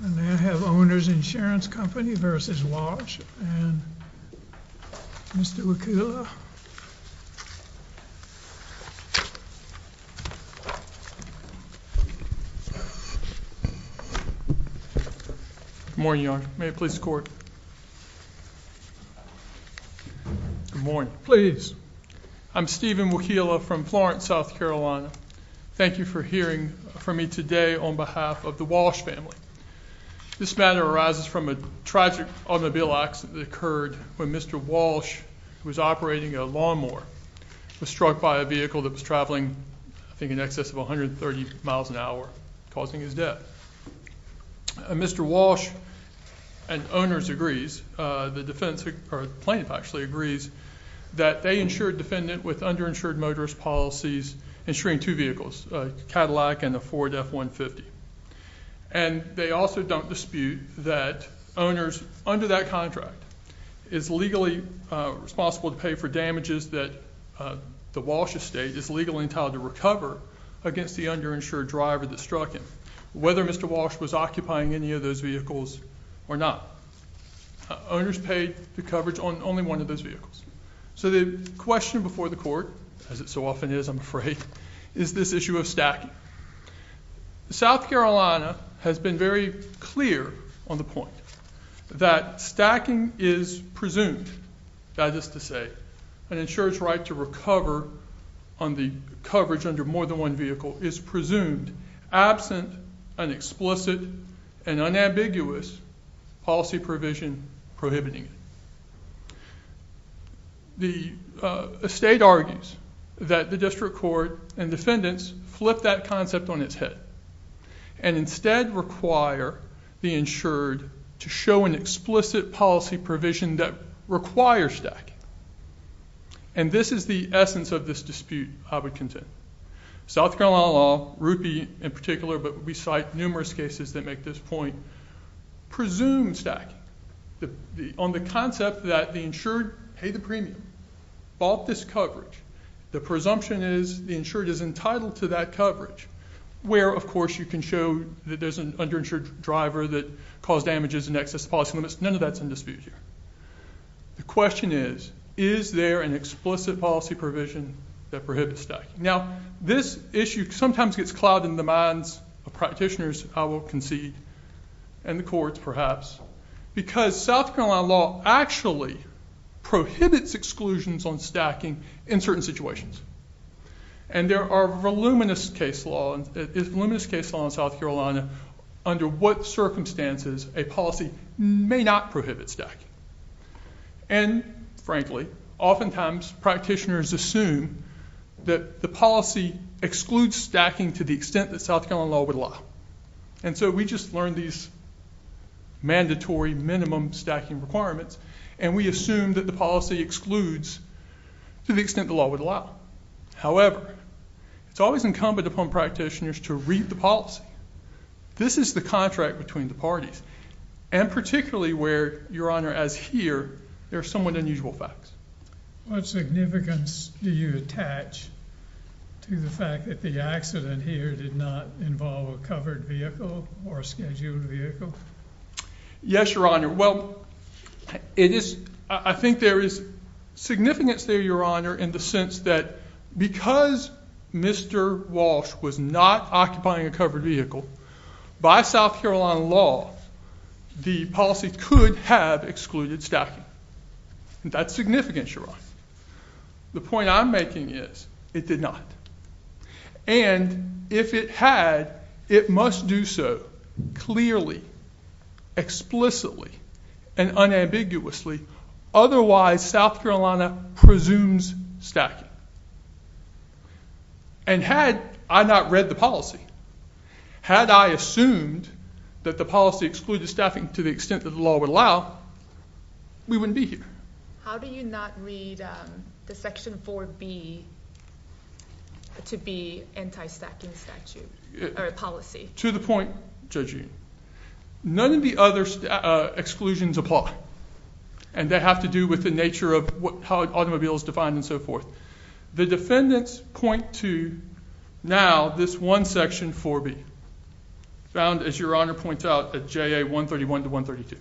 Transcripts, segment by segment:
May I have Owners Insurance Company v. Walsh and Mr. Wachula? Good morning, Your Honor. May I please escort? Good morning. Please. I'm Stephen Wachula from Florence, South Carolina. Thank you for hearing from me today on behalf of the Walsh family. This matter arises from a tragic automobile accident that occurred when Mr. Walsh, who was operating a lawnmower, was struck by a vehicle that was traveling, I think, in excess of 130 miles an hour, causing his death. Mr. Walsh and owners agrees, the plaintiff actually agrees, that they insured a defendant with underinsured motorist policies, insuring two vehicles, a Cadillac and a Ford F-150. And they also don't dispute that owners under that contract is legally responsible to pay for damages that the Walsh estate is legally entitled to recover against the underinsured driver that struck him, whether Mr. Walsh was occupying any of those vehicles or not. Owners pay the coverage on only one of those vehicles. So the question before the court, as it so often is, I'm afraid, is this issue of stacking. South Carolina has been very clear on the point that stacking is presumed, that is to say, an insurer's right to recover on the coverage under more than one vehicle is presumed, absent an explicit and unambiguous policy provision prohibiting it. The estate argues that the district court and defendants flip that concept on its head and instead require the insured to show an explicit policy provision that requires stacking. And this is the essence of this dispute, I would contend. South Carolina law, Rupi in particular, but we cite numerous cases that make this point, presumes stacking on the concept that the insured paid the premium, bought this coverage. The presumption is the insured is entitled to that coverage, where, of course, you can show that there's an underinsured driver that caused damages and excess policy limits. None of that's in dispute here. The question is, is there an explicit policy provision that prohibits stacking? Now, this issue sometimes gets clouded in the minds of practitioners, I will concede, and the courts, perhaps, because South Carolina law actually prohibits exclusions on stacking in certain situations. And there are voluminous case law in South Carolina under what circumstances a policy may not prohibit stacking. And, frankly, oftentimes practitioners assume that the policy excludes stacking to the extent that South Carolina law would allow. And so we just learned these mandatory minimum stacking requirements and we assume that the policy excludes to the extent the law would allow. However, it's always incumbent upon practitioners to read the policy. This is the contract between the parties, and particularly where, Your Honor, as here, there are somewhat unusual facts. What significance do you attach to the fact that the accident here did not involve a covered vehicle or a scheduled vehicle? Yes, Your Honor. Well, I think there is significance there, Your Honor, in the sense that because Mr. Walsh was not occupying a covered vehicle, by South Carolina law, the policy could have excluded stacking. That's significant, Your Honor. The point I'm making is it did not. And if it had, it must do so clearly, explicitly, and unambiguously. Otherwise, South Carolina presumes stacking. And had I not read the policy, had I assumed that the policy excluded stacking to the extent that the law would allow, we wouldn't be here. How do you not read the Section 4B to be anti-stacking statute or policy? To the point, Judge Yoon, none of the other exclusions apply, and they have to do with the nature of how automobiles are defined and so forth. The defendants point to, now, this one Section 4B, found, as Your Honor points out, at JA 131 to 132.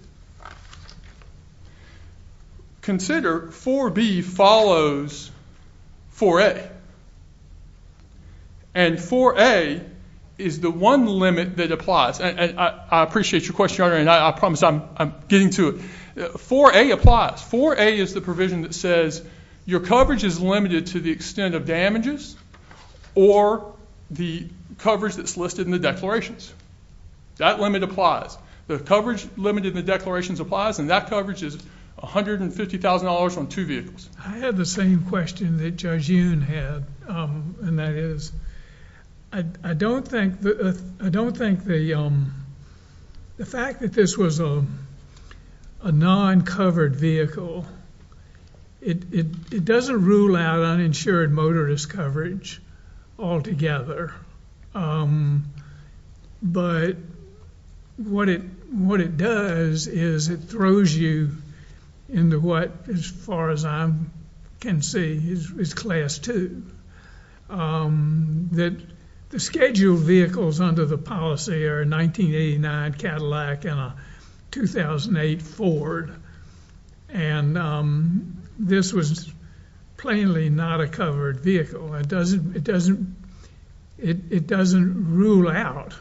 Consider 4B follows 4A. And 4A is the one limit that applies. I appreciate your question, Your Honor, and I promise I'm getting to it. 4A applies. 4A is the provision that says your coverage is limited to the extent of damages or the coverage that's listed in the declarations. That limit applies. The coverage limited in the declarations applies, and that coverage is $150,000 on two vehicles. I had the same question that Judge Yoon had, and that is, I don't think the fact that this was a non-covered vehicle, it doesn't rule out uninsured motorist coverage altogether. But what it does is it throws you into what, as far as I can see, is Class 2. The scheduled vehicles under the policy are a 1989 Cadillac and a 2008 Ford. And this was plainly not a covered vehicle. It doesn't rule out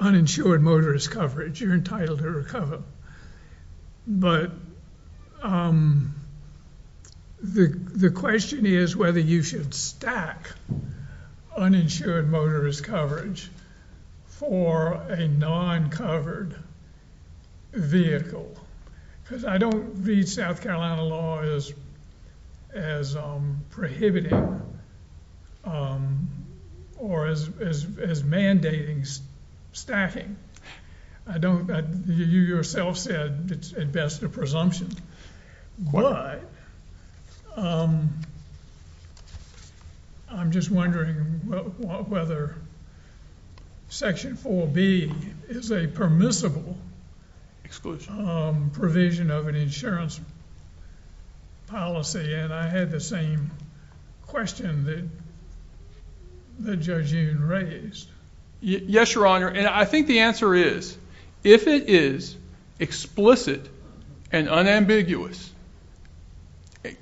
uninsured motorist coverage. You're entitled to recover. But the question is whether you should stack uninsured motorist coverage for a non-covered vehicle. Because I don't read South Carolina law as prohibiting or as mandating stacking. You yourself said it's at best a presumption. But I'm just wondering whether Section 4B is a permissible provision of an insurance policy. And I had the same question that Judge Yoon raised. Yes, Your Honor. And I think the answer is, if it is explicit and unambiguous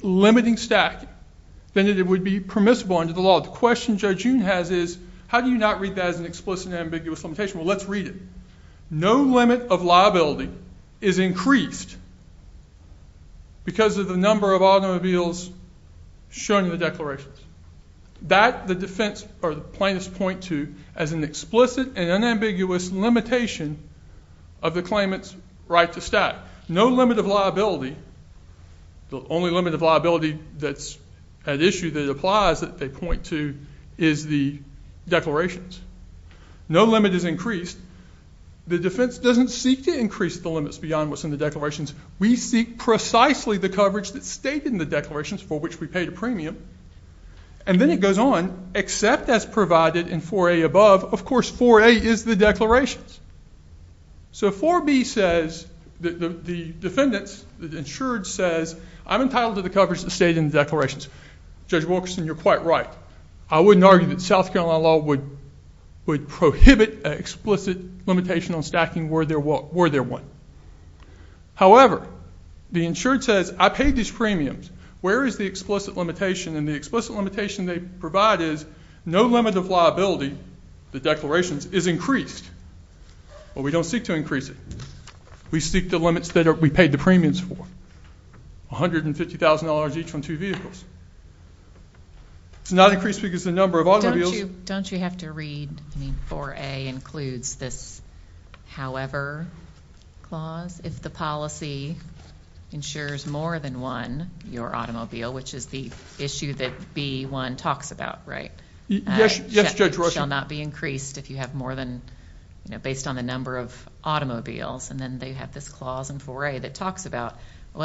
limiting stacking, then it would be permissible under the law. The question Judge Yoon has is, how do you not read that as an explicit and ambiguous limitation? Well, let's read it. No limit of liability is increased because of the number of automobiles shown in the declarations. That the plaintiffs point to as an explicit and unambiguous limitation of the claimant's right to stack. No limit of liability. The only limit of liability that's at issue that applies that they point to is the declarations. No limit is increased. The defense doesn't seek to increase the limits beyond what's in the declarations. We seek precisely the coverage that's stated in the declarations for which we paid a premium. And then it goes on, except as provided in 4A above. Of course, 4A is the declarations. So 4B says, the defendants, the insured says, I'm entitled to the coverage that's stated in the declarations. Judge Wilkerson, you're quite right. I wouldn't argue that South Carolina law would prohibit an explicit limitation on stacking were there one. However, the insured says, I paid these premiums. Where is the explicit limitation? And the explicit limitation they provide is no limit of liability, the declarations, is increased. But we don't seek to increase it. We seek the limits that we paid the premiums for, $150,000 each on two vehicles. It's not increased because the number of automobiles. Don't you have to read, I mean, 4A includes this however clause. If the policy insures more than one, your automobile, which is the issue that B1 talks about, right? Yes, Judge Rushing. It shall not be increased if you have more than, based on the number of automobiles. And then they have this clause in 4A that talks about,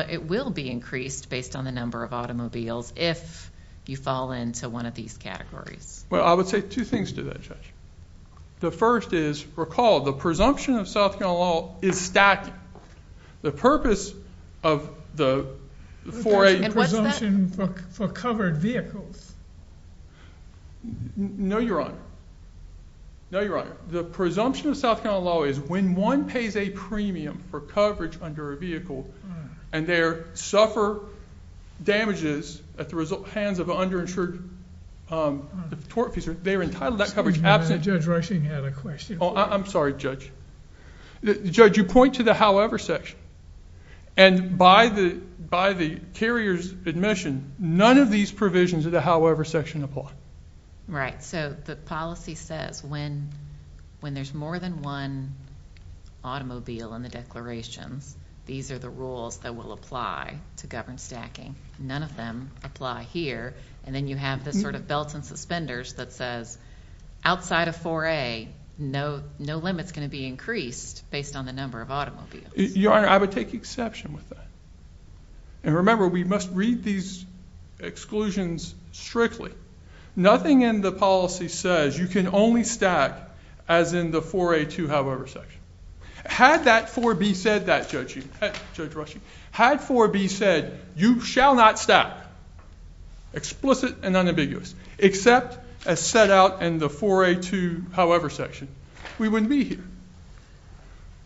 it will be increased based on the number of automobiles if you fall into one of these categories. Well, I would say two things to that, Judge. The first is, recall, the presumption of South Carolina law is stacking. The purpose of the 4A presumption for covered vehicles. No, Your Honor. No, Your Honor. The presumption of South Carolina law is when one pays a premium for coverage under a vehicle and they suffer damages at the hands of an underinsured tort officer, they are entitled to that coverage. Judge Rushing had a question. Oh, I'm sorry, Judge. Judge, you point to the however section. And by the carrier's admission, none of these provisions of the however section apply. Right. So the policy says when there's more than one automobile in the declarations, these are the rules that will apply to governed stacking. None of them apply here. And then you have this sort of belt and suspenders that says, outside of 4A, no limit's going to be increased based on the number of automobiles. Your Honor, I would take exception with that. And remember, we must read these exclusions strictly. Nothing in the policy says you can only stack as in the 4A2 however section. Had that 4B said that, Judge Rushing, had 4B said you shall not stack, explicit and unambiguous, except as set out in the 4A2 however section, we wouldn't be here.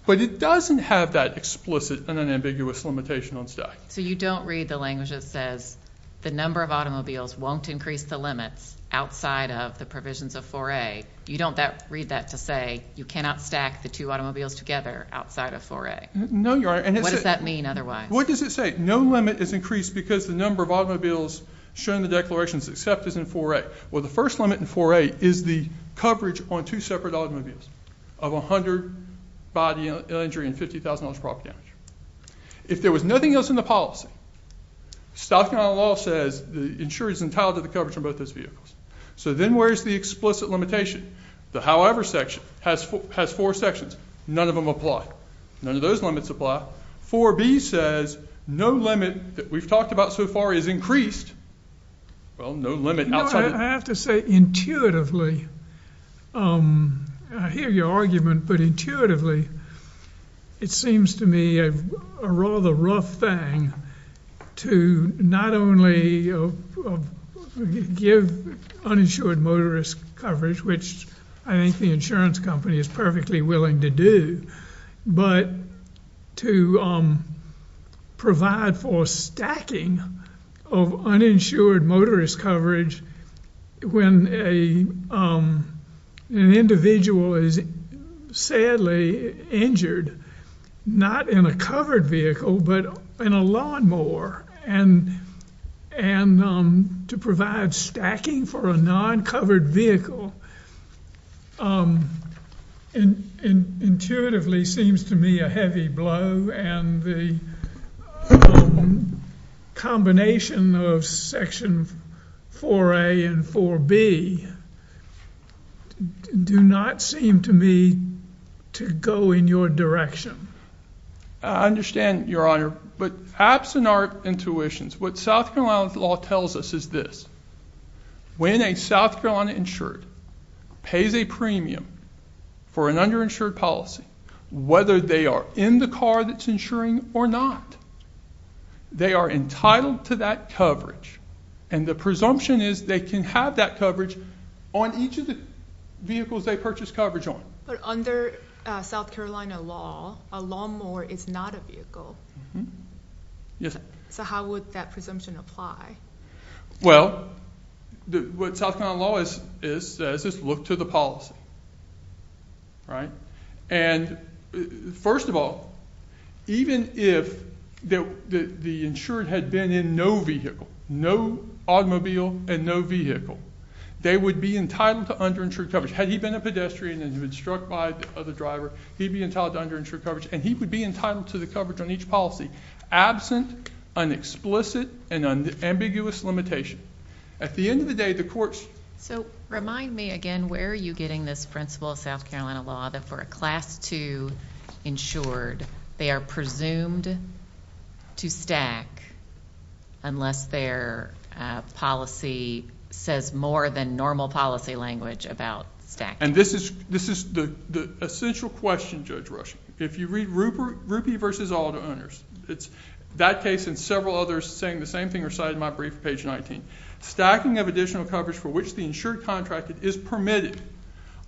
But it doesn't have that explicit and unambiguous limitation on stack. So you don't read the language that says the number of automobiles won't increase the limits outside of the provisions of 4A. You don't read that to say you cannot stack the two automobiles together outside of 4A. No, Your Honor. What does that mean otherwise? What does it say? No limit is increased because the number of automobiles shown in the declarations except as in 4A. Well, the first limit in 4A is the coverage on two separate automobiles of 100 body injury and $50,000 property damage. If there was nothing else in the policy, stock and auto law says the insurer is entitled to the coverage on both those vehicles. So then where is the explicit limitation? The however section has four sections. None of them apply. None of those limits apply. 4B says no limit that we've talked about so far is increased. Well, no limit outside of that. I have to say intuitively, I hear your argument, but intuitively it seems to me a rather rough thing to not only give uninsured motorist coverage, which I think the insurance company is perfectly willing to do, but to provide for stacking of uninsured motorist coverage when an individual is sadly injured, not in a covered vehicle but in a lawnmower, and to provide stacking for a non-covered vehicle intuitively seems to me a heavy blow, and the combination of section 4A and 4B do not seem to me to go in your direction. I understand, Your Honor. But absent our intuitions, what South Carolina law tells us is this. When a South Carolina insured pays a premium for an underinsured policy, whether they are in the car that's insuring or not, they are entitled to that coverage, and the presumption is they can have that coverage on each of the vehicles they purchase coverage on. But under South Carolina law, a lawnmower is not a vehicle. Yes. So how would that presumption apply? Well, what South Carolina law says is look to the policy, right? And first of all, even if the insured had been in no vehicle, no automobile and no vehicle, they would be entitled to underinsured coverage. Had he been a pedestrian and been struck by the driver, he'd be entitled to underinsured coverage, and he would be entitled to the coverage on each policy, absent an explicit and ambiguous limitation. At the end of the day, the courts ---- So remind me again, where are you getting this principle of South Carolina law that for a Class 2 insured, they are presumed to stack unless their policy says more than normal policy language about stacking? And this is the essential question, Judge Rush. If you read Rupee v. Auto Owners, it's that case and several others saying the same thing recited in my brief, page 19. Stacking of additional coverage for which the insured contracted is permitted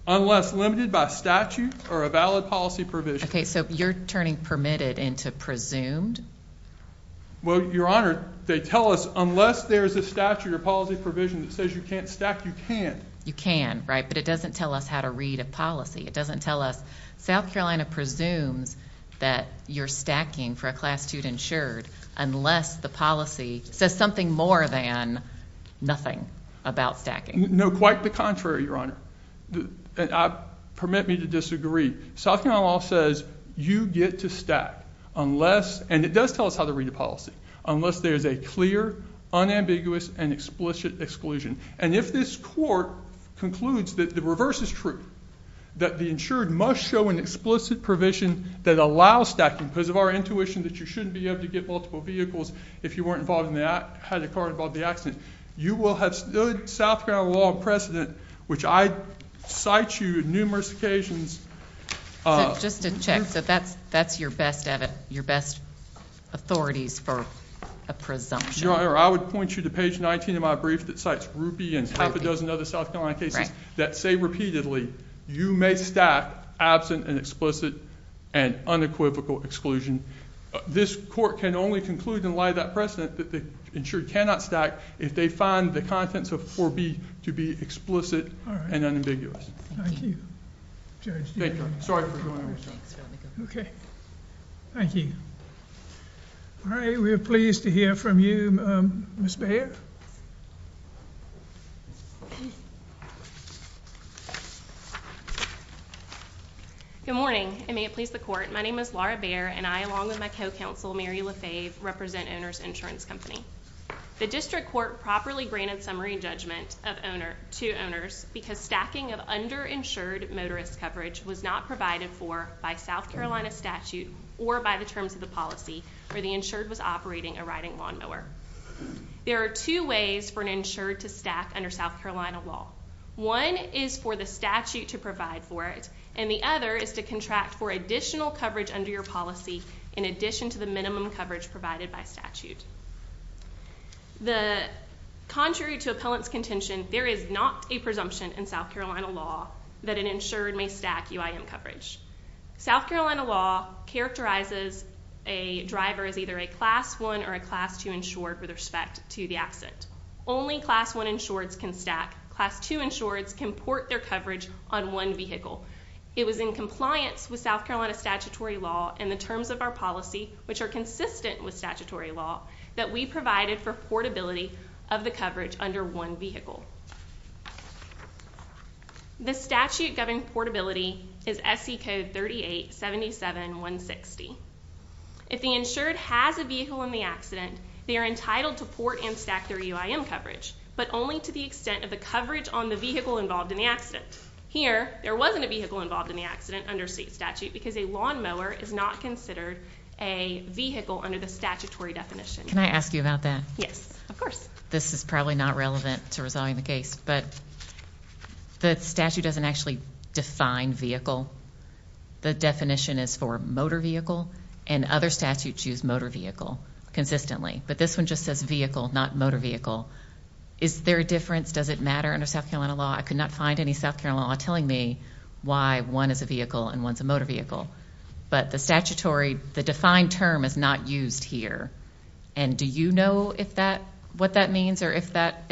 unless limited by statute or a valid policy provision. Okay, so you're turning permitted into presumed? Well, Your Honor, they tell us unless there's a statute or policy provision that says you can't stack, you can. You can, right, but it doesn't tell us how to read a policy. It doesn't tell us. South Carolina presumes that you're stacking for a Class 2 insured unless the policy says something more than nothing about stacking. No, quite the contrary, Your Honor. Permit me to disagree. South Carolina law says you get to stack unless ---- and it does tell us how to read a policy ---- with a clear, unambiguous, and explicit exclusion. And if this court concludes that the reverse is true, that the insured must show an explicit provision that allows stacking because of our intuition that you shouldn't be able to get multiple vehicles if you weren't involved in the accident, you will have stood South Carolina law in precedent, which I cite you on numerous occasions. Just to check, so that's your best authorities for a presumption? Your Honor, I would point you to page 19 of my brief that cites Rupi and half a dozen other South Carolina cases that say repeatedly, you may stack absent an explicit and unequivocal exclusion. This court can only conclude in light of that precedent that the insured cannot stack if they find the contents of 4B to be explicit and unambiguous. Thank you. Judge, do you have anything? Sorry for going over so fast. Okay. Thank you. All right, we're pleased to hear from you. Ms. Bair? Good morning, and may it please the Court. My name is Laura Bair, and I, along with my co-counsel, Mary LaFave, represent Oner's Insurance Company. The district court properly granted summary judgment to Oner's because stacking of underinsured motorist coverage was not provided for by South Carolina statute or by the terms of the policy where the insured was operating a riding lawnmower. There are two ways for an insured to stack under South Carolina law. One is for the statute to provide for it, and the other is to contract for additional coverage under your policy in addition to the minimum coverage provided by statute. Contrary to appellant's contention, there is not a presumption in South Carolina law that an insured may stack UIM coverage. South Carolina law characterizes a driver as either a Class I or a Class II insured with respect to the absent. Only Class I insureds can stack. Class II insureds can port their coverage on one vehicle. It was in compliance with South Carolina statutory law and the terms of our policy, which are consistent with statutory law, that we provided for portability of the coverage under one vehicle. The statute governing portability is SC Code 3877-160. If the insured has a vehicle in the accident, they are entitled to port and stack their UIM coverage, but only to the extent of the coverage on the vehicle involved in the accident. Here, there wasn't a vehicle involved in the accident under state statute because a lawnmower is not considered a vehicle under the statutory definition. Can I ask you about that? Yes, of course. This is probably not relevant to resolving the case, but the statute doesn't actually define vehicle. The definition is for motor vehicle, and other statutes use motor vehicle consistently. But this one just says vehicle, not motor vehicle. Is there a difference? Does it matter under South Carolina law? I could not find any South Carolina law telling me why one is a vehicle and one is a motor vehicle. But the statutory, the defined term is not used here. And do you know what that means or if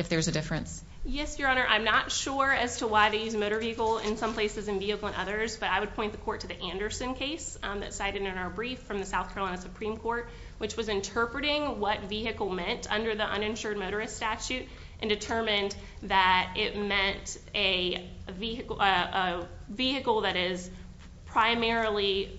there's a difference? Yes, Your Honor. I'm not sure as to why they use motor vehicle in some places and vehicle in others, but I would point the court to the Anderson case that's cited in our brief from the South Carolina Supreme Court, which was interpreting what vehicle meant under the uninsured motorist statute and determined that it meant a vehicle that is primarily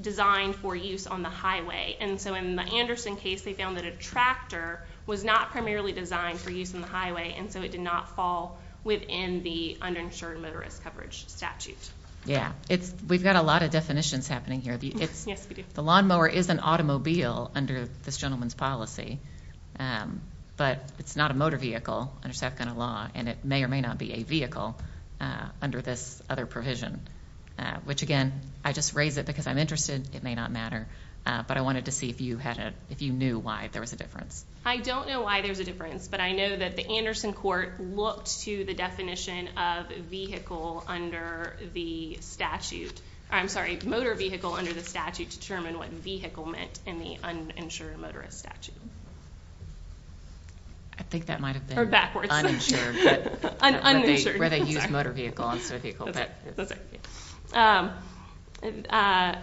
designed for use on the highway. And so in the Anderson case, they found that a tractor was not primarily designed for use on the highway, and so it did not fall within the uninsured motorist coverage statute. We've got a lot of definitions happening here. Yes, we do. The lawnmower is an automobile under this gentleman's policy, but it's not a motor vehicle under South Carolina law, and it may or may not be a vehicle under this other provision, which, again, I just raise it because I'm interested. It may not matter, but I wanted to see if you knew why there was a difference. I don't know why there's a difference, but I know that the Anderson court looked to the definition of vehicle under the statute. I'm sorry, motor vehicle under the statute determined what vehicle meant in the uninsured motorist statute. I think that might have been uninsured, where they used motor vehicle instead of vehicle. And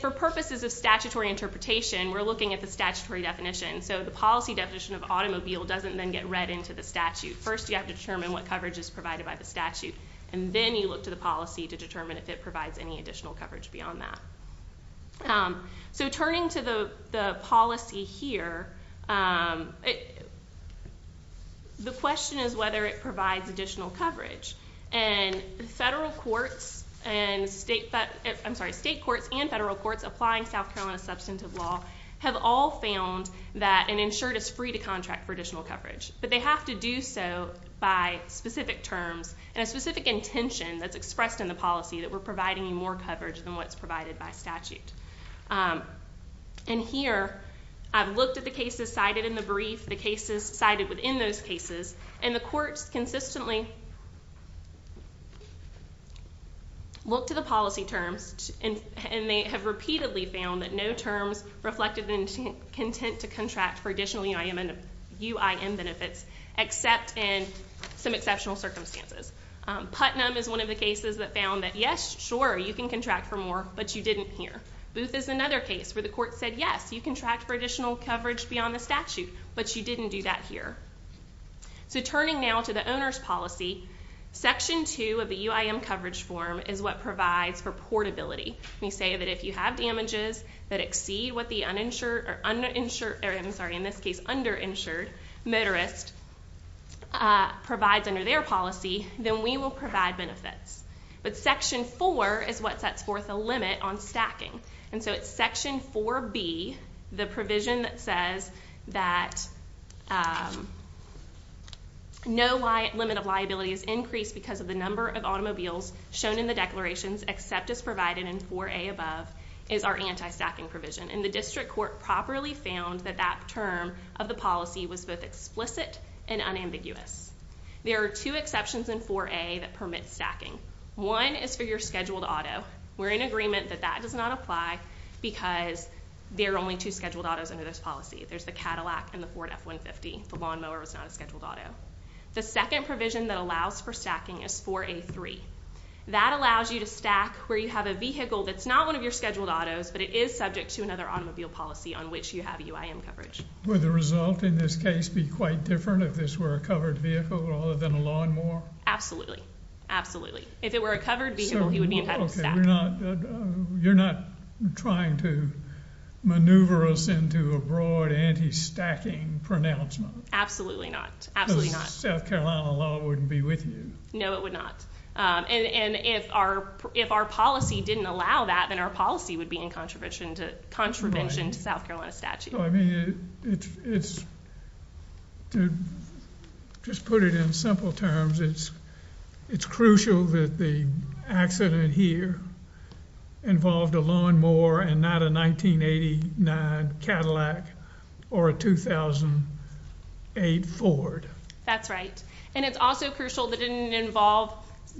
for purposes of statutory interpretation, we're looking at the statutory definition. So the policy definition of automobile doesn't then get read into the statute. First, you have to determine what coverage is provided by the statute, and then you look to the policy to determine if it provides any additional coverage beyond that. So turning to the policy here, the question is whether it provides additional coverage, and state courts and federal courts applying South Carolina substantive law have all found that an insured is free to contract for additional coverage, but they have to do so by specific terms, and a specific intention that's expressed in the policy that we're providing more coverage than what's provided by statute. And here, I've looked at the cases cited in the brief, the cases cited within those cases, and the courts consistently look to the policy terms, and they have repeatedly found that no terms reflected the intent to contract for additional UIM benefits, except in some exceptional circumstances. Putnam is one of the cases that found that, yes, sure, you can contract for more, but you didn't here. Booth is another case where the court said, yes, you can contract for additional coverage beyond the statute, but you didn't do that here. So turning now to the owner's policy, Section 2 of the UIM coverage form is what provides for portability. We say that if you have damages that exceed what the uninsured, or I'm sorry, in this case, underinsured motorist provides under their policy, then we will provide benefits. But Section 4 is what sets forth a limit on stacking. And so it's Section 4B, the provision that says that no limit of liability is increased because of the number of automobiles shown in the declarations, except as provided in 4A above, is our anti-stacking provision. And the district court properly found that that term of the policy was both explicit and unambiguous. There are two exceptions in 4A that permit stacking. One is for your scheduled auto. We're in agreement that that does not apply because there are only two scheduled autos under this policy. There's the Cadillac and the Ford F-150. The lawnmower is not a scheduled auto. The second provision that allows for stacking is 4A.3. That allows you to stack where you have a vehicle that's not one of your scheduled autos, but it is subject to another automobile policy on which you have UIM coverage. Would the result in this case be quite different if this were a covered vehicle rather than a lawnmower? Absolutely. Absolutely. If it were a covered vehicle, you would be entitled to stack. You're not trying to maneuver us into a broad anti-stacking pronouncement? Absolutely not. Absolutely not. Because the South Carolina law wouldn't be with you. No, it would not. And if our policy didn't allow that, then our policy would be in contravention to South Carolina statute. I mean, to just put it in simple terms, it's crucial that the accident here involved a lawnmower and not a 1989 Cadillac or a 2008 Ford. That's right. And it's also crucial that it didn't involve,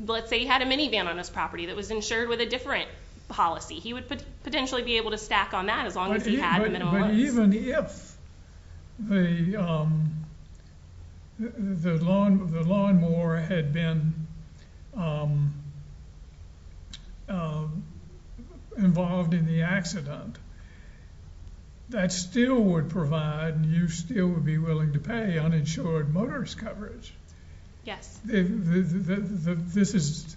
let's say you had a minivan on this property that was insured with a different policy. He would potentially be able to stack on that as long as he had the minivans. But even if the lawnmower had been involved in the accident, that still would provide, and you still would be willing to pay, uninsured motorist coverage. Yes. This is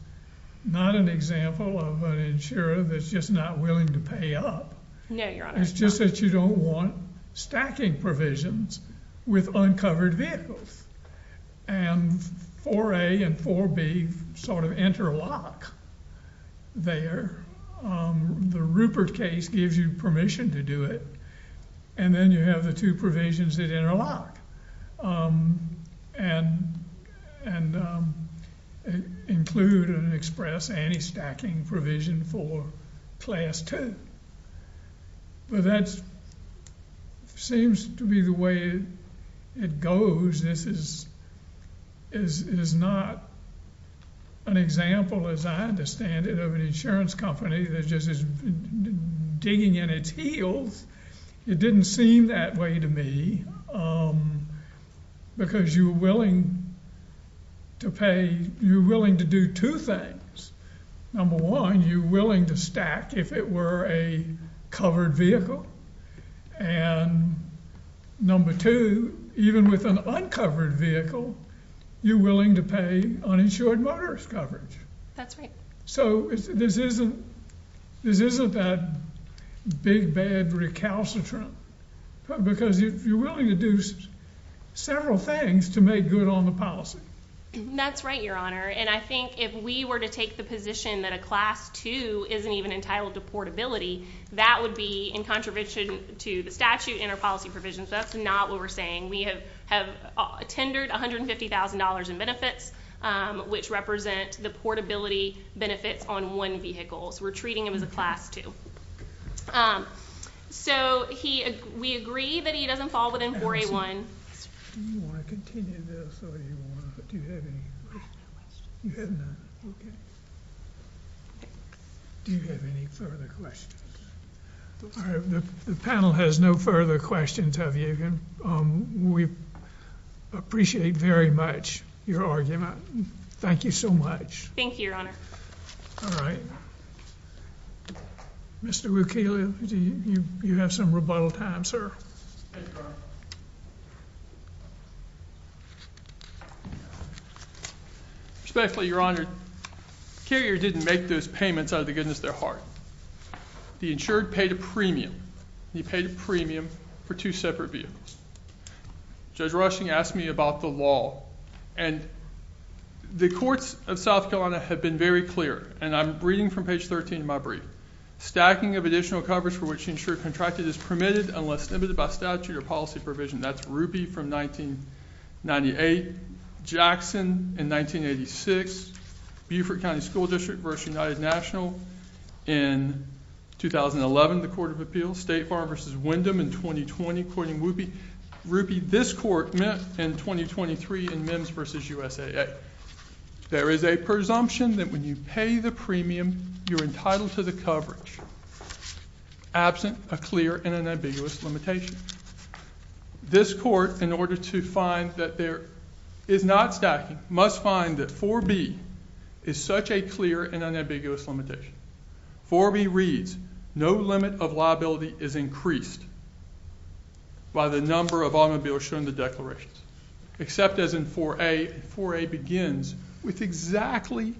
not an example of an insurer that's just not willing to pay up. No, Your Honor. It's just that you don't want stacking provisions with uncovered vehicles. And 4A and 4B sort of interlock there. The Rupert case gives you permission to do it, and then you have the two provisions that interlock. And include an express anti-stacking provision for Class 2. But that seems to be the way it goes. This is not an example, as I understand it, of an insurance company that just is digging in its heels. It didn't seem that way to me. Because you're willing to do two things. Number one, you're willing to stack if it were a covered vehicle. And number two, even with an uncovered vehicle, you're willing to pay uninsured motorist coverage. That's right. So this isn't that big, bad recalcitrant. Because you're willing to do several things to make good on the policy. That's right, Your Honor. And I think if we were to take the position that a Class 2 isn't even entitled to portability, that would be in contribution to the statute in our policy provisions. That's not what we're saying. We have tendered $150,000 in benefits, which represent the portability benefits on one vehicle. So we're treating them as a Class 2. So we agree that he doesn't fall within 4A1. The panel has no further questions, have you? We appreciate very much your argument. Thank you so much. Thank you, Your Honor. All right. Mr. Wilkelio, you have some rebuttal time, sir. Thank you, Your Honor. Respectfully, Your Honor, Carrier didn't make those payments out of the goodness of their heart. The insured paid a premium. He paid a premium for two separate vehicles. Judge Rushing asked me about the law. And the courts of South Carolina have been very clear. And I'm reading from page 13 of my brief. Stacking of additional coverage for which insured contracted is permitted unless limited by statute or policy provision. That's Rupey from 1998, Jackson in 1986, Beaufort County School District v. United National in 2011, the Court of Appeals, State Farm v. Wyndham in 2020, courting Rupey. Rupey, this court met in 2023 in MIMS v. USAA. There is a presumption that when you pay the premium, you're entitled to the coverage, absent a clear and unambiguous limitation. This court, in order to find that there is not stacking, must find that 4B is such a clear and unambiguous limitation. 4B reads, no limit of liability is increased by the number of automobiles shown in the declarations, except as in 4A. 4A begins with exactly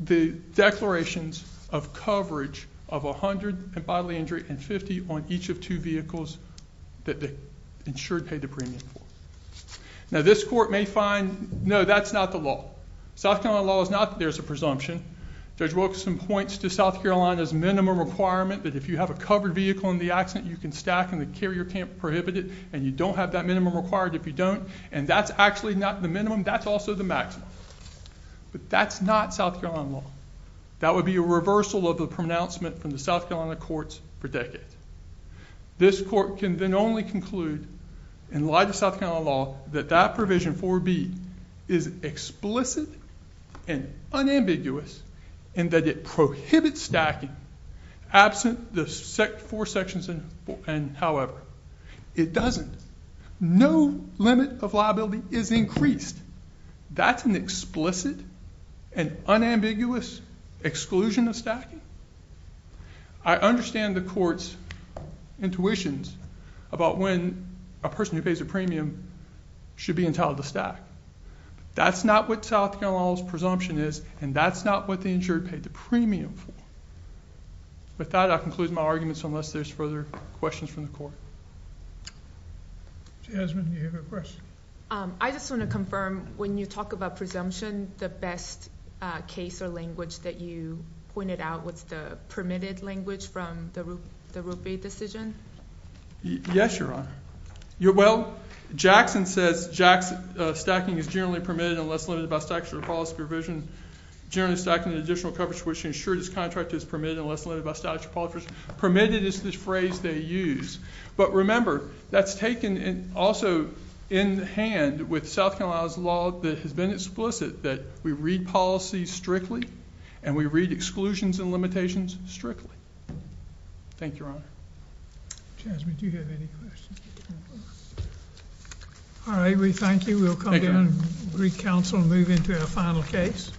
the declarations of coverage of 100 in bodily injury and 50 on each of two vehicles that the insured paid the premium for. Now, this court may find, no, that's not the law. South Carolina law is not that there's a presumption. Judge Wilkson points to South Carolina's minimum requirement that if you have a covered vehicle in the accident, you can stack and the carrier can't prohibit it, and you don't have that minimum required if you don't. And that's actually not the minimum. That's also the maximum. But that's not South Carolina law. That would be a reversal of the pronouncement from the South Carolina courts for decades. This court can then only conclude, in light of South Carolina law, that that provision, 4B, is explicit and unambiguous in that it prohibits stacking, absent the four sections and however. It doesn't. No limit of liability is increased. That's an explicit and unambiguous exclusion of stacking? I understand the court's intuitions about when a person who pays a premium should be entitled to stack. That's not what South Carolina law's presumption is, and that's not what the insured paid the premium for. With that, I conclude my arguments, unless there's further questions from the court. Jasmine, do you have a question? I just want to confirm, when you talk about presumption, the best case or language that you pointed out was the permitted language from the Rupee decision? Yes, Your Honor. Well, Jackson says, stacking is generally permitted unless limited by statutory policy provision. Generally stacking is an additional coverage which ensures this contract is permitted unless limited by statutory policy. Permitted is the phrase they use. But remember, that's taken also in hand with South Carolina's law that has been explicit that we read policy strictly and we read exclusions and limitations strictly. Thank you, Your Honor. Jasmine, do you have any questions? All right, we thank you. We'll come down and re-counsel and move into our final case. Thank you.